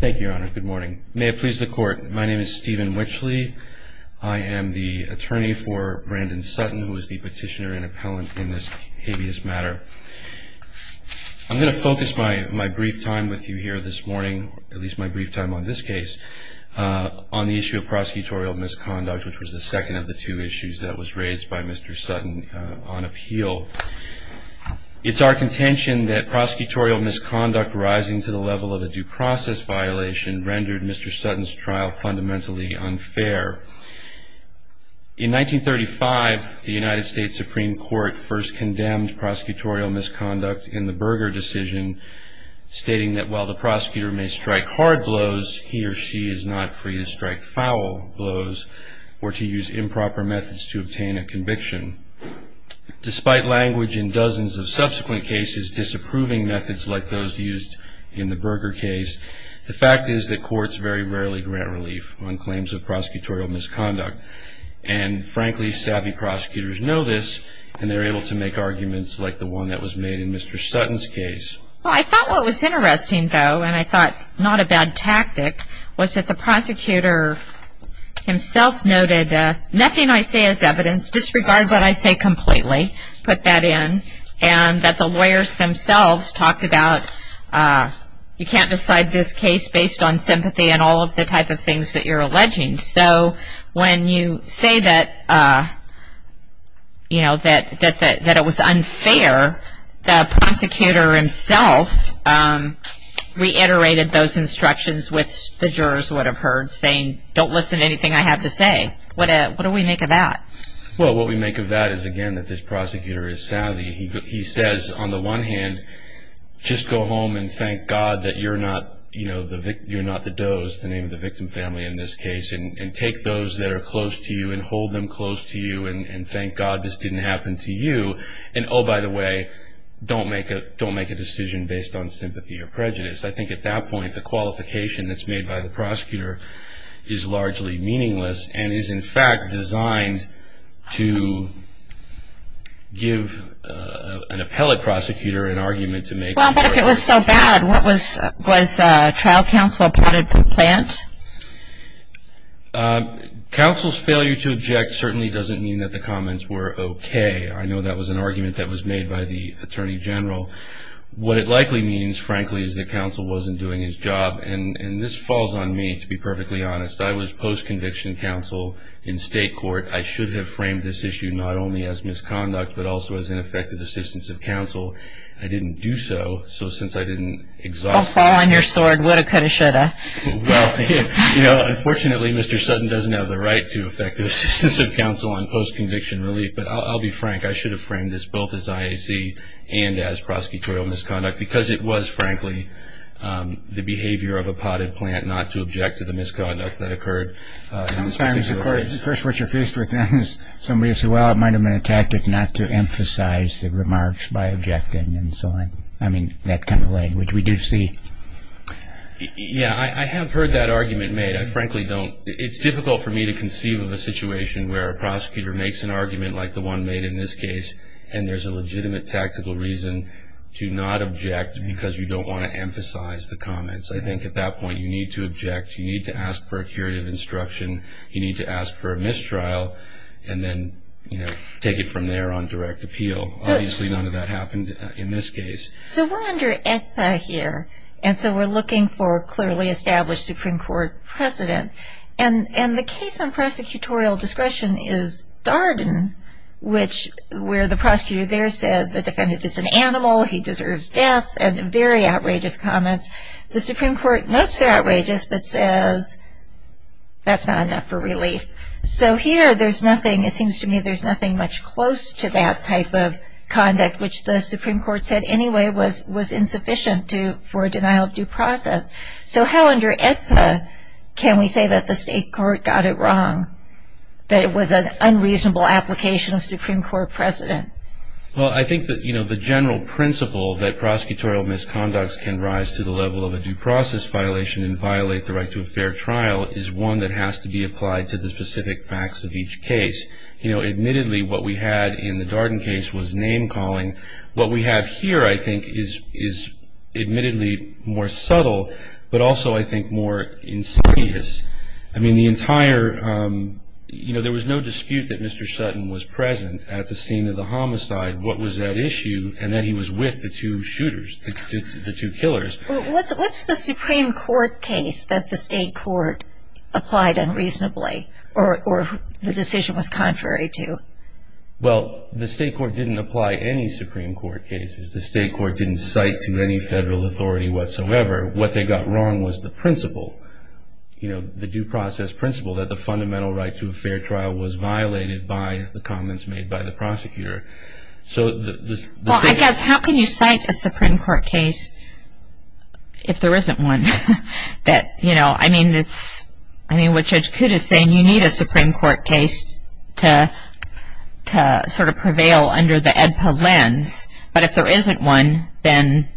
Thank you, Your Honor. Good morning. May it please the Court, my name is Stephen Wichley. I am the attorney for Brandon Sutton, who is the petitioner and appellant in this habeas matter. I'm going to focus my brief time with you here this morning, at least my brief time on this case, on the issue of prosecutorial misconduct, which was the second of the two issues that was raised by Mr. Sutton on appeal. It's our contention that prosecutorial misconduct rising to the level of a due process violation rendered Mr. Sutton's trial fundamentally unfair. In 1935, the United States Supreme Court first condemned prosecutorial misconduct in the Berger decision, stating that while the prosecutor may strike hard blows, he or she is not free to strike foul blows or to use improper methods to obtain a conviction. Despite language in dozens of subsequent cases disapproving methods like those used in the Berger case, the fact is that courts very rarely grant relief on claims of prosecutorial misconduct. And frankly, savvy prosecutors know this, and they're able to make arguments like the one that was made in Mr. Sutton's case. Well, I thought what was interesting, though, and I thought not a bad tactic, was that the prosecutor himself noted, nothing I say is evidence. Disregard what I say completely. Put that in. And that the lawyers themselves talked about you can't decide this case based on sympathy and all of the type of things that you're alleging. So when you say that it was unfair, the prosecutor himself reiterated those instructions, which the jurors would have heard, saying, don't listen to anything I have to say. What do we make of that? Well, what we make of that is, again, that this prosecutor is savvy. He says, on the one hand, just go home and thank God that you're not the does, the name of the victim family in this case, and take those that are close to you and hold them close to you and thank God this didn't happen to you. And, oh, by the way, don't make a decision based on sympathy or prejudice. I think at that point, the qualification that's made by the prosecutor is largely meaningless and is, in fact, designed to give an appellate prosecutor an argument to make. Well, but if it was so bad, what was, was trial counsel applauded the plant? Counsel's failure to object certainly doesn't mean that the comments were okay. I know that was an argument that was made by the attorney general. What it likely means, frankly, is that counsel wasn't doing his job. And this falls on me, to be perfectly honest. I was post-conviction counsel in state court. I should have framed this issue not only as misconduct but also as ineffective assistance of counsel. I didn't do so, so since I didn't exhaust the court. Oh, fall on your sword. Woulda, coulda, shoulda. Well, you know, unfortunately, Mr. Sutton doesn't have the right to effective assistance of counsel on post-conviction relief. But I'll be frank. I should have framed this both as IAC and as prosecutorial misconduct because it was, frankly, the behavior of a potted plant not to object to the misconduct that occurred. Sometimes, at first what you're faced with then is somebody will say, well, it might have been a tactic not to emphasize the remarks by objecting and so on. I mean, that kind of language we do see. Yeah, I have heard that argument made. It's difficult for me to conceive of a situation where a prosecutor makes an argument like the one made in this case and there's a legitimate tactical reason to not object because you don't want to emphasize the comments. I think at that point you need to object. You need to ask for a curative instruction. You need to ask for a mistrial and then take it from there on direct appeal. Obviously, none of that happened in this case. So we're under ACPA here, and so we're looking for clearly established Supreme Court precedent. And the case on prosecutorial discretion is Darden, which where the prosecutor there said the defendant is an animal, he deserves death, and very outrageous comments. The Supreme Court notes they're outrageous but says that's not enough for relief. So here there's nothing. It seems to me there's nothing much close to that type of conduct, which the Supreme Court said anyway was insufficient for a denial of due process. So how under ACPA can we say that the state court got it wrong, that it was an unreasonable application of Supreme Court precedent? Well, I think that, you know, the general principle that prosecutorial misconducts can rise to the level of a due process violation and violate the right to a fair trial is one that has to be applied to the specific facts of each case. You know, admittedly, what we had in the Darden case was name calling. What we have here, I think, is admittedly more subtle but also, I think, more insidious. I mean, the entire, you know, there was no dispute that Mr. Sutton was present at the scene of the homicide. What was at issue? And that he was with the two shooters, the two killers. Well, what's the Supreme Court case that the state court applied unreasonably or the decision was contrary to? Well, the state court didn't apply any Supreme Court cases. The state court didn't cite to any federal authority whatsoever. What they got wrong was the principle, you know, the due process principle, that the fundamental right to a fair trial was violated by the comments made by the prosecutor. Well, I guess, how can you cite a Supreme Court case if there isn't one? That, you know, I mean, what Judge Coote is saying, you need a Supreme Court case to sort of prevail under the AEDPA lens. But if there isn't one, then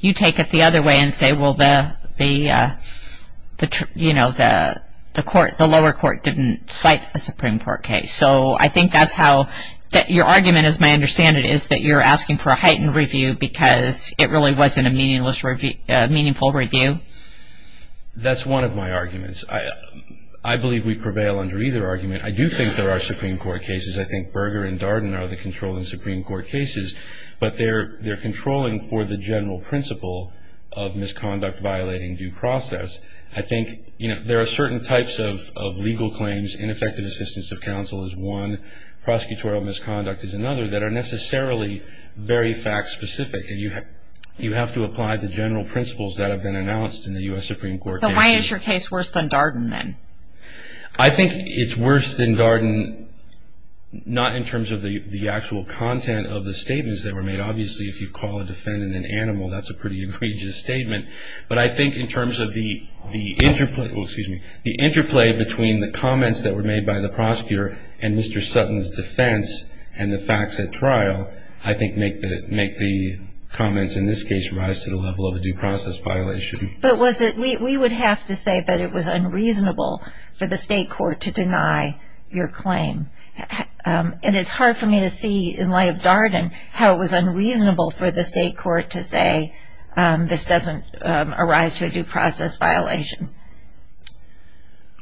you take it the other way and say, well, the lower court didn't cite a Supreme Court case. So I think that's how your argument, as I understand it, is that you're asking for a heightened review because it really wasn't a meaningful review. That's one of my arguments. I believe we prevail under either argument. I do think there are Supreme Court cases. I think Berger and Darden are the controlling Supreme Court cases. But they're controlling for the general principle of misconduct violating due process. I think, you know, there are certain types of legal claims, ineffective assistance of counsel is one, prosecutorial misconduct is another, that are necessarily very fact specific. And you have to apply the general principles that have been announced in the U.S. Supreme Court. So why is your case worse than Darden, then? I think it's worse than Darden not in terms of the actual content of the statements that were made. Obviously, if you call a defendant an animal, that's a pretty egregious statement. But I think in terms of the interplay between the comments that were made by the prosecutor and Mr. Sutton's defense and the facts at trial, I think make the comments in this case rise to the level of a due process violation. But we would have to say that it was unreasonable for the state court to deny your claim. And it's hard for me to see, in light of Darden, how it was unreasonable for the state court to say this doesn't arise to a due process violation.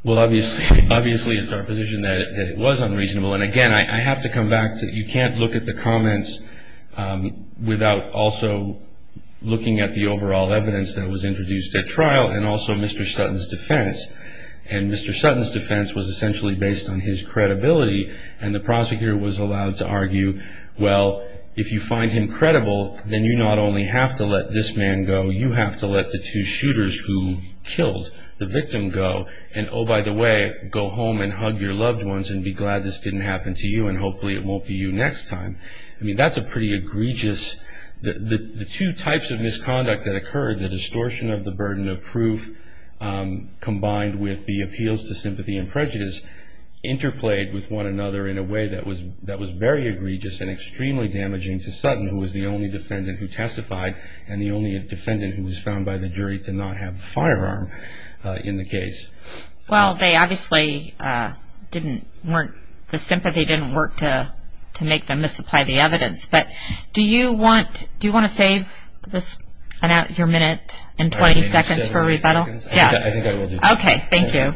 Well, obviously it's our position that it was unreasonable. And, again, I have to come back to you can't look at the comments without also looking at the overall evidence that was introduced at trial and also Mr. Sutton's defense. And Mr. Sutton's defense was essentially based on his credibility. And the prosecutor was allowed to argue, well, if you find him credible, then you not only have to let this man go, you have to let the two shooters who killed the victim go. And, oh, by the way, go home and hug your loved ones and be glad this didn't happen to you. And hopefully it won't be you next time. I mean, that's a pretty egregious – the two types of misconduct that occurred, the distortion of the burden of proof combined with the appeals to sympathy and prejudice, interplayed with one another in a way that was very egregious and extremely damaging to Sutton, who was the only defendant who testified and the only defendant who was found by the jury to not have a firearm in the case. Well, they obviously didn't – the sympathy didn't work to make them misapply the evidence. But do you want – do you want to save your minute and 20 seconds for rebuttal? I think I will do that. Okay, thank you.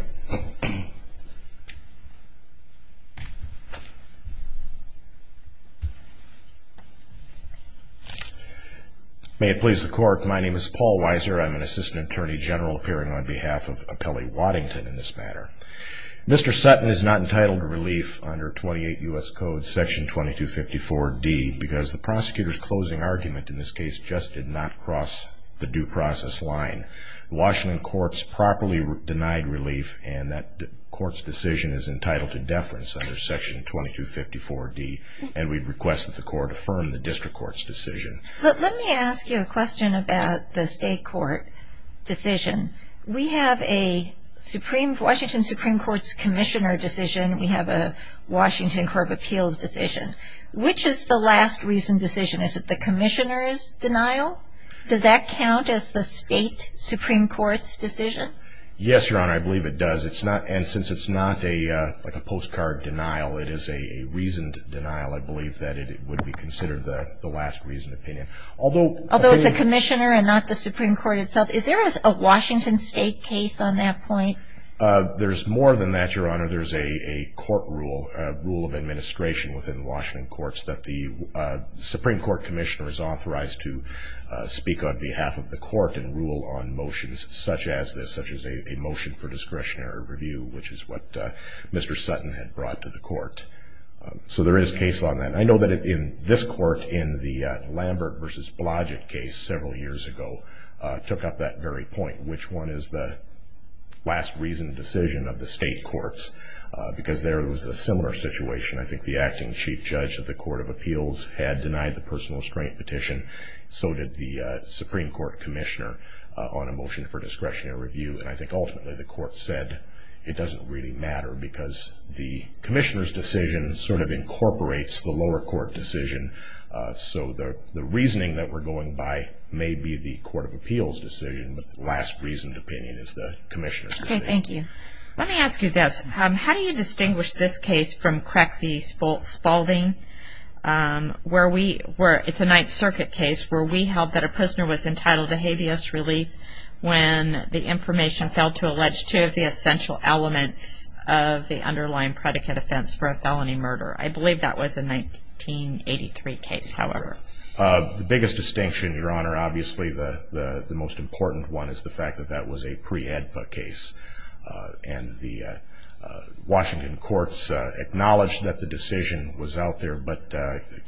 May it please the Court, my name is Paul Weiser. I'm an Assistant Attorney General appearing on behalf of Appellee Waddington in this matter. Mr. Sutton is not entitled to relief under 28 U.S. Code Section 2254D because the prosecutor's closing argument in this case just did not cross the due process line. The Washington court's properly denied relief and that court's decision is entitled to deference under Section 2254D and we request that the court affirm the district court's decision. But let me ask you a question about the state court decision. We have a Supreme – Washington Supreme Court's commissioner decision. We have a Washington Court of Appeals decision. Which is the last recent decision? Is it the commissioner's denial? Does that count as the state Supreme Court's decision? Yes, Your Honor, I believe it does. It's not – and since it's not a – like a postcard denial, it is a reasoned denial. I believe that it would be considered the last reasoned opinion. Although – Although it's a commissioner and not the Supreme Court itself, is there a Washington state case on that point? There's more than that, Your Honor. There's a court rule, a rule of administration within Washington courts that the Supreme Court commissioner is authorized to speak on behalf of the court and rule on motions such as this, such as a motion for discretionary review, which is what Mr. Sutton had brought to the court. So there is a case on that. And I know that in this court in the Lambert v. Blodgett case several years ago took up that very point, which one is the last reasoned decision of the state courts, because there was a similar situation. I think the acting chief judge of the Court of Appeals had denied the personal restraint petition. So did the Supreme Court commissioner on a motion for discretionary review. And I think ultimately the court said it doesn't really matter because the commissioner's decision sort of incorporates the lower court decision. So the reasoning that we're going by may be the Court of Appeals' decision, but the last reasoned opinion is the commissioner's decision. Okay, thank you. Let me ask you this. How do you distinguish this case from Crack v. Spalding, where it's a Ninth Circuit case, where we held that a prisoner was entitled to habeas relief when the information failed to allege two of the essential elements of the underlying predicate offense for a felony murder? I believe that was a 1983 case, however. The biggest distinction, Your Honor, obviously the most important one is the fact that that was a pre-AEDPA case. And the Washington courts acknowledged that the decision was out there, but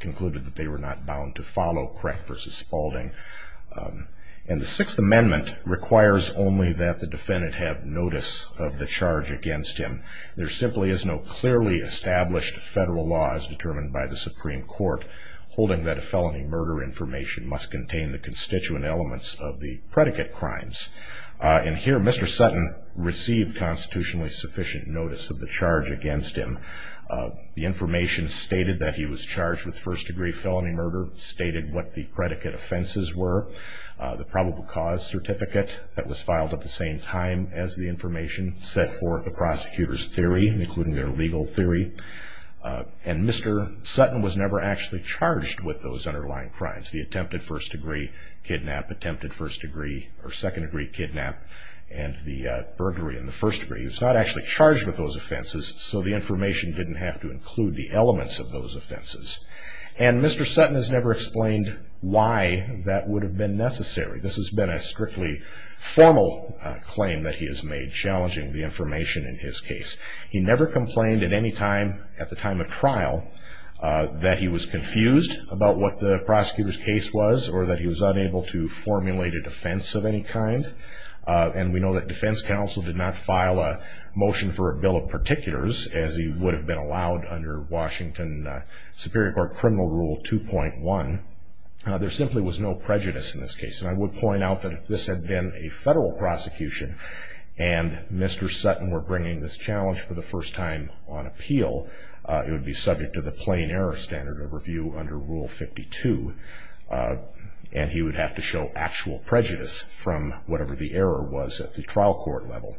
concluded that they were not bound to follow Crack v. Spalding. And the Sixth Amendment requires only that the defendant have notice of the charge against him. There simply is no clearly established federal law as determined by the Supreme Court holding that a felony murder information must contain the constituent elements of the predicate crimes. And here Mr. Sutton received constitutionally sufficient notice of the charge against him. The information stated that he was charged with first-degree felony murder, stated what the predicate offenses were. The probable cause certificate that was filed at the same time as the information, set forth the prosecutor's theory, including their legal theory. And Mr. Sutton was never actually charged with those underlying crimes, the attempted first-degree kidnap, attempted second-degree kidnap, and the burglary in the first degree. He was not actually charged with those offenses, so the information didn't have to include the elements of those offenses. And Mr. Sutton has never explained why that would have been necessary. This has been a strictly formal claim that he has made, challenging the information in his case. He never complained at any time, at the time of trial, that he was confused about what the prosecutor's case was or that he was unable to formulate a defense of any kind. And we know that defense counsel did not file a motion for a bill of particulars as he would have been allowed under Washington Superior Court Criminal Rule 2.1. There simply was no prejudice in this case. And I would point out that if this had been a federal prosecution and Mr. Sutton were bringing this challenge for the first time on appeal, it would be subject to the plain error standard of review under Rule 52. And he would have to show actual prejudice from whatever the error was at the trial court level.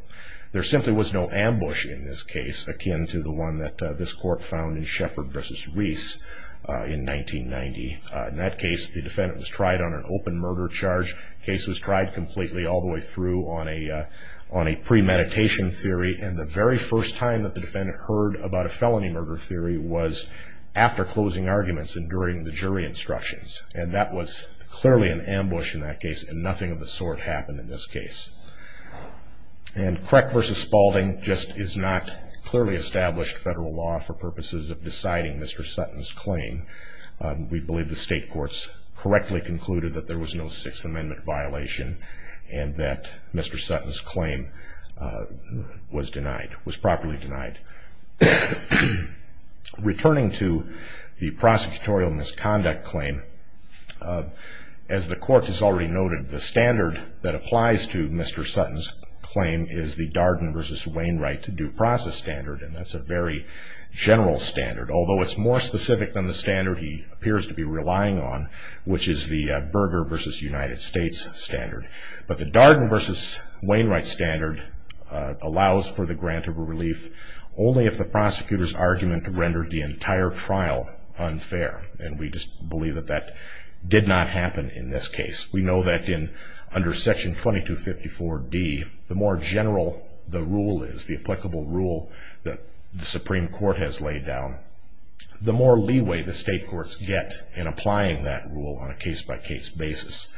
There simply was no ambush in this case, akin to the one that this court found in Shepard v. Reese in 1990. In that case, the defendant was tried on an open murder charge. The case was tried completely all the way through on a premeditation theory. And the very first time that the defendant heard about a felony murder theory was after closing arguments and during the jury instructions. And that was clearly an ambush in that case, and nothing of the sort happened in this case. And Creck v. Spalding just is not clearly established federal law for purposes of deciding Mr. Sutton's claim. We believe the state courts correctly concluded that there was no Sixth Amendment violation and that Mr. Sutton's claim was properly denied. Returning to the prosecutorial misconduct claim, as the court has already noted, the standard that applies to Mr. Sutton's claim is the Darden v. Wainwright due process standard, and that's a very general standard. Although it's more specific than the standard he appears to be relying on, which is the Berger v. United States standard. But the Darden v. Wainwright standard allows for the grant of a relief only if the prosecutor's argument rendered the entire trial unfair. And we just believe that that did not happen in this case. We know that under Section 2254d, the more general the rule is, the applicable rule that the Supreme Court has laid down, the more leeway the state courts get in applying that rule on a case-by-case basis.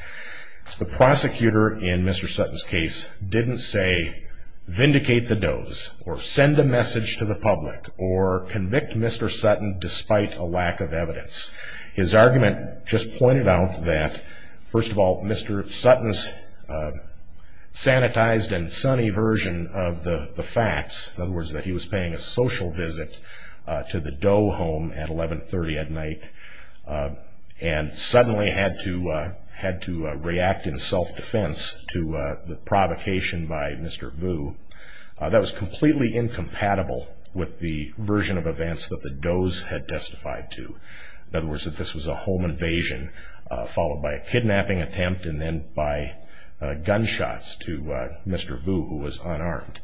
The prosecutor in Mr. Sutton's case didn't say, vindicate the does or send a message to the public or convict Mr. Sutton despite a lack of evidence. His argument just pointed out that, first of all, Mr. Sutton's sanitized and sunny version of the facts, in other words, that he was paying a social visit to the Doe home at 11.30 at night and suddenly had to react in self-defense to the provocation by Mr. Vu, that was completely incompatible with the version of events that the Does had testified to. In other words, that this was a home invasion followed by a kidnapping attempt and then by gunshots to Mr. Vu, who was unarmed.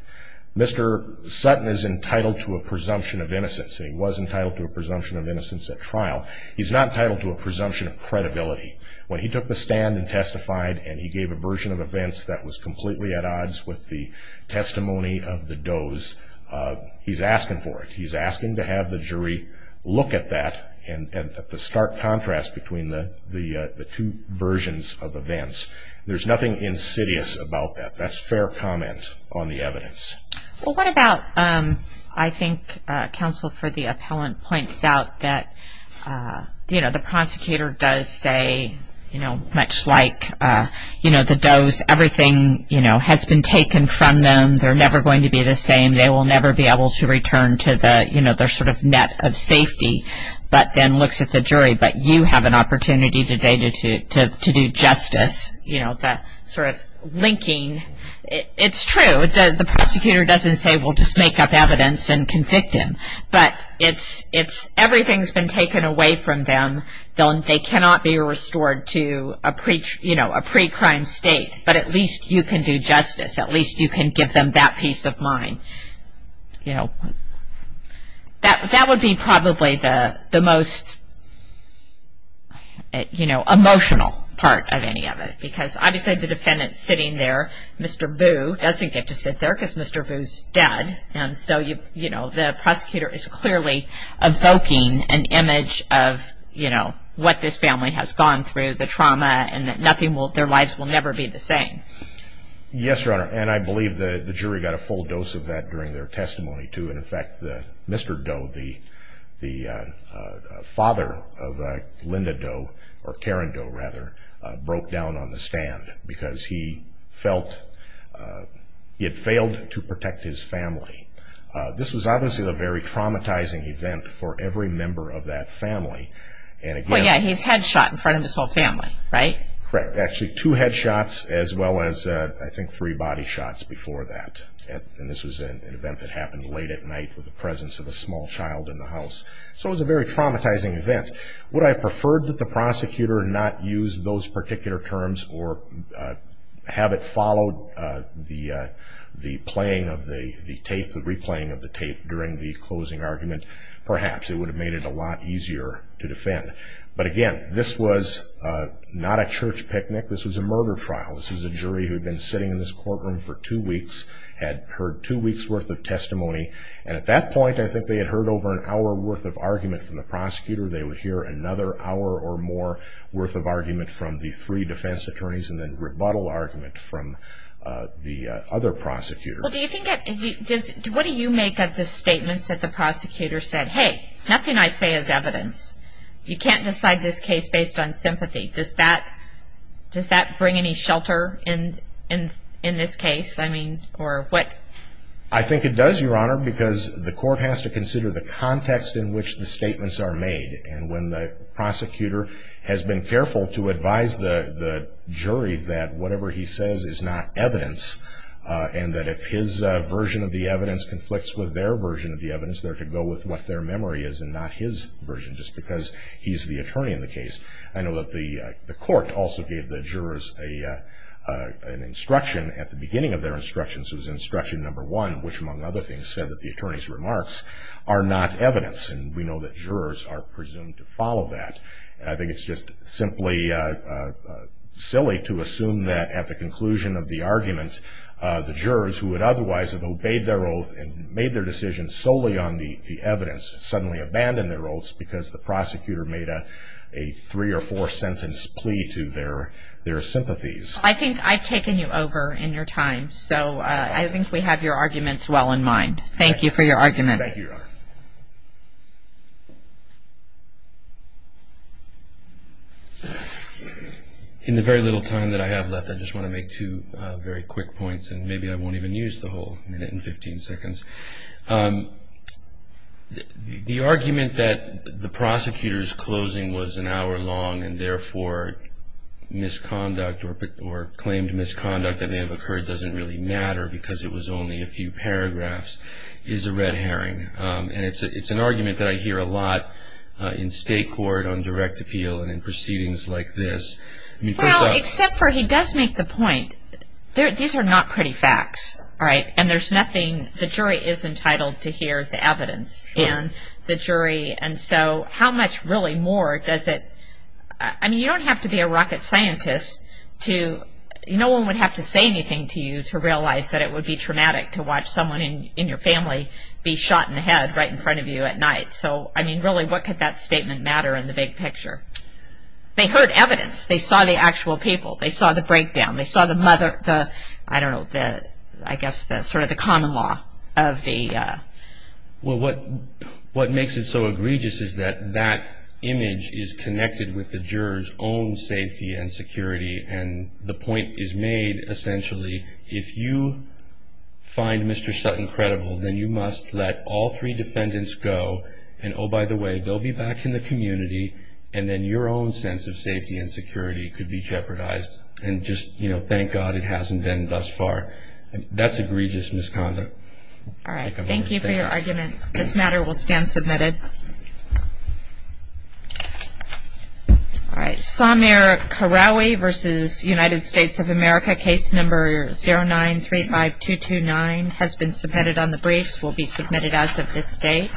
Mr. Sutton is entitled to a presumption of innocence, and he was entitled to a presumption of innocence at trial. He's not entitled to a presumption of credibility. When he took the stand and testified and he gave a version of events that was completely at odds with the testimony of the Does, he's asking for it. He's asking to have the jury look at that and at the stark contrast between the two versions of events. There's nothing insidious about that. That's fair comment on the evidence. What about, I think counsel for the appellant points out that the prosecutor does say, much like the Does, everything has been taken from them, they're never going to be the same, they will never be able to return to their net of safety, but then looks at the jury, but you have an opportunity today to do justice, that sort of linking. It's true, the prosecutor doesn't say, we'll just make up evidence and convict him, but everything's been taken away from them. They cannot be restored to a pre-crime state, but at least you can do justice, at least you can give them that peace of mind. That would be probably the most emotional part of any of it, because obviously the defendant's sitting there, Mr. Boo doesn't get to sit there because Mr. Boo's dead, and so the prosecutor is clearly evoking an image of what this family has gone through, the trauma, and that their lives will never be the same. Yes, Your Honor, and I believe the jury got a full dose of that during their testimony too, and in fact Mr. Doe, the father of Linda Doe, or Karen Doe rather, broke down on the stand because he felt he had failed to protect his family. This was obviously a very traumatizing event for every member of that family. Well, yeah, he's headshot in front of his whole family, right? Correct, actually two headshots as well as, I think, three body shots before that, and this was an event that happened late at night with the presence of a small child in the house. So it was a very traumatizing event. Would I have preferred that the prosecutor not use those particular terms or have it follow the playing of the tape, the replaying of the tape during the closing argument? Perhaps, it would have made it a lot easier to defend. But again, this was not a church picnic. This was a murder trial. This was a jury who had been sitting in this courtroom for two weeks, had heard two weeks' worth of testimony, and at that point I think they had heard over an hour worth of argument from the prosecutor. They would hear another hour or more worth of argument from the three defense attorneys and then rebuttal argument from the other prosecutor. What do you make of the statements that the prosecutor said, Hey, nothing I say is evidence. You can't decide this case based on sympathy. Does that bring any shelter in this case? I think it does, Your Honor, because the court has to consider the context in which the statements are made, and when the prosecutor has been careful to advise the jury that whatever he says is not evidence, with their version of the evidence, they're to go with what their memory is and not his version, just because he's the attorney in the case. I know that the court also gave the jurors an instruction at the beginning of their instructions. It was instruction number one, which, among other things, said that the attorneys' remarks are not evidence, and we know that jurors are presumed to follow that. I think it's just simply silly to assume that at the conclusion of the argument, the jurors who would otherwise have obeyed their oath and made their decision solely on the evidence suddenly abandoned their oaths because the prosecutor made a three- or four-sentence plea to their sympathies. I think I've taken you over in your time, so I think we have your arguments well in mind. Thank you for your argument. Thank you, Your Honor. In the very little time that I have left, I just want to make two very quick points, and maybe I won't even use the whole minute and 15 seconds. The argument that the prosecutor's closing was an hour long and therefore misconduct or claimed misconduct that may have occurred doesn't really matter because it was only a few paragraphs is a red herring, and it's an argument that I hear a lot in state court on direct appeal and in proceedings like this. Well, except for he does make the point. These are not pretty facts, and there's nothing. The jury is entitled to hear the evidence in the jury, and so how much really more does it – I mean, you don't have to be a rocket scientist to – no one would have to say anything to you to realize that it would be traumatic to watch someone in your family be shot in the head right in front of you at night. So, I mean, really, what could that statement matter in the big picture? They heard evidence. They saw the actual people. They saw the breakdown. They saw the mother – I don't know, I guess sort of the common law of the – Well, what makes it so egregious is that that image is connected with the juror's own safety and security, and the point is made essentially if you find Mr. Sutton credible, then you must let all three defendants go, and oh, by the way, they'll be back in the community, and then your own sense of safety and security could be jeopardized and just, you know, thank God it hasn't been thus far. That's egregious misconduct. All right. Thank you for your argument. This matter will stand submitted. All right. Samir Kharaoui v. United States of America, case number 0935229, has been submitted on the briefs, will be submitted as of this date.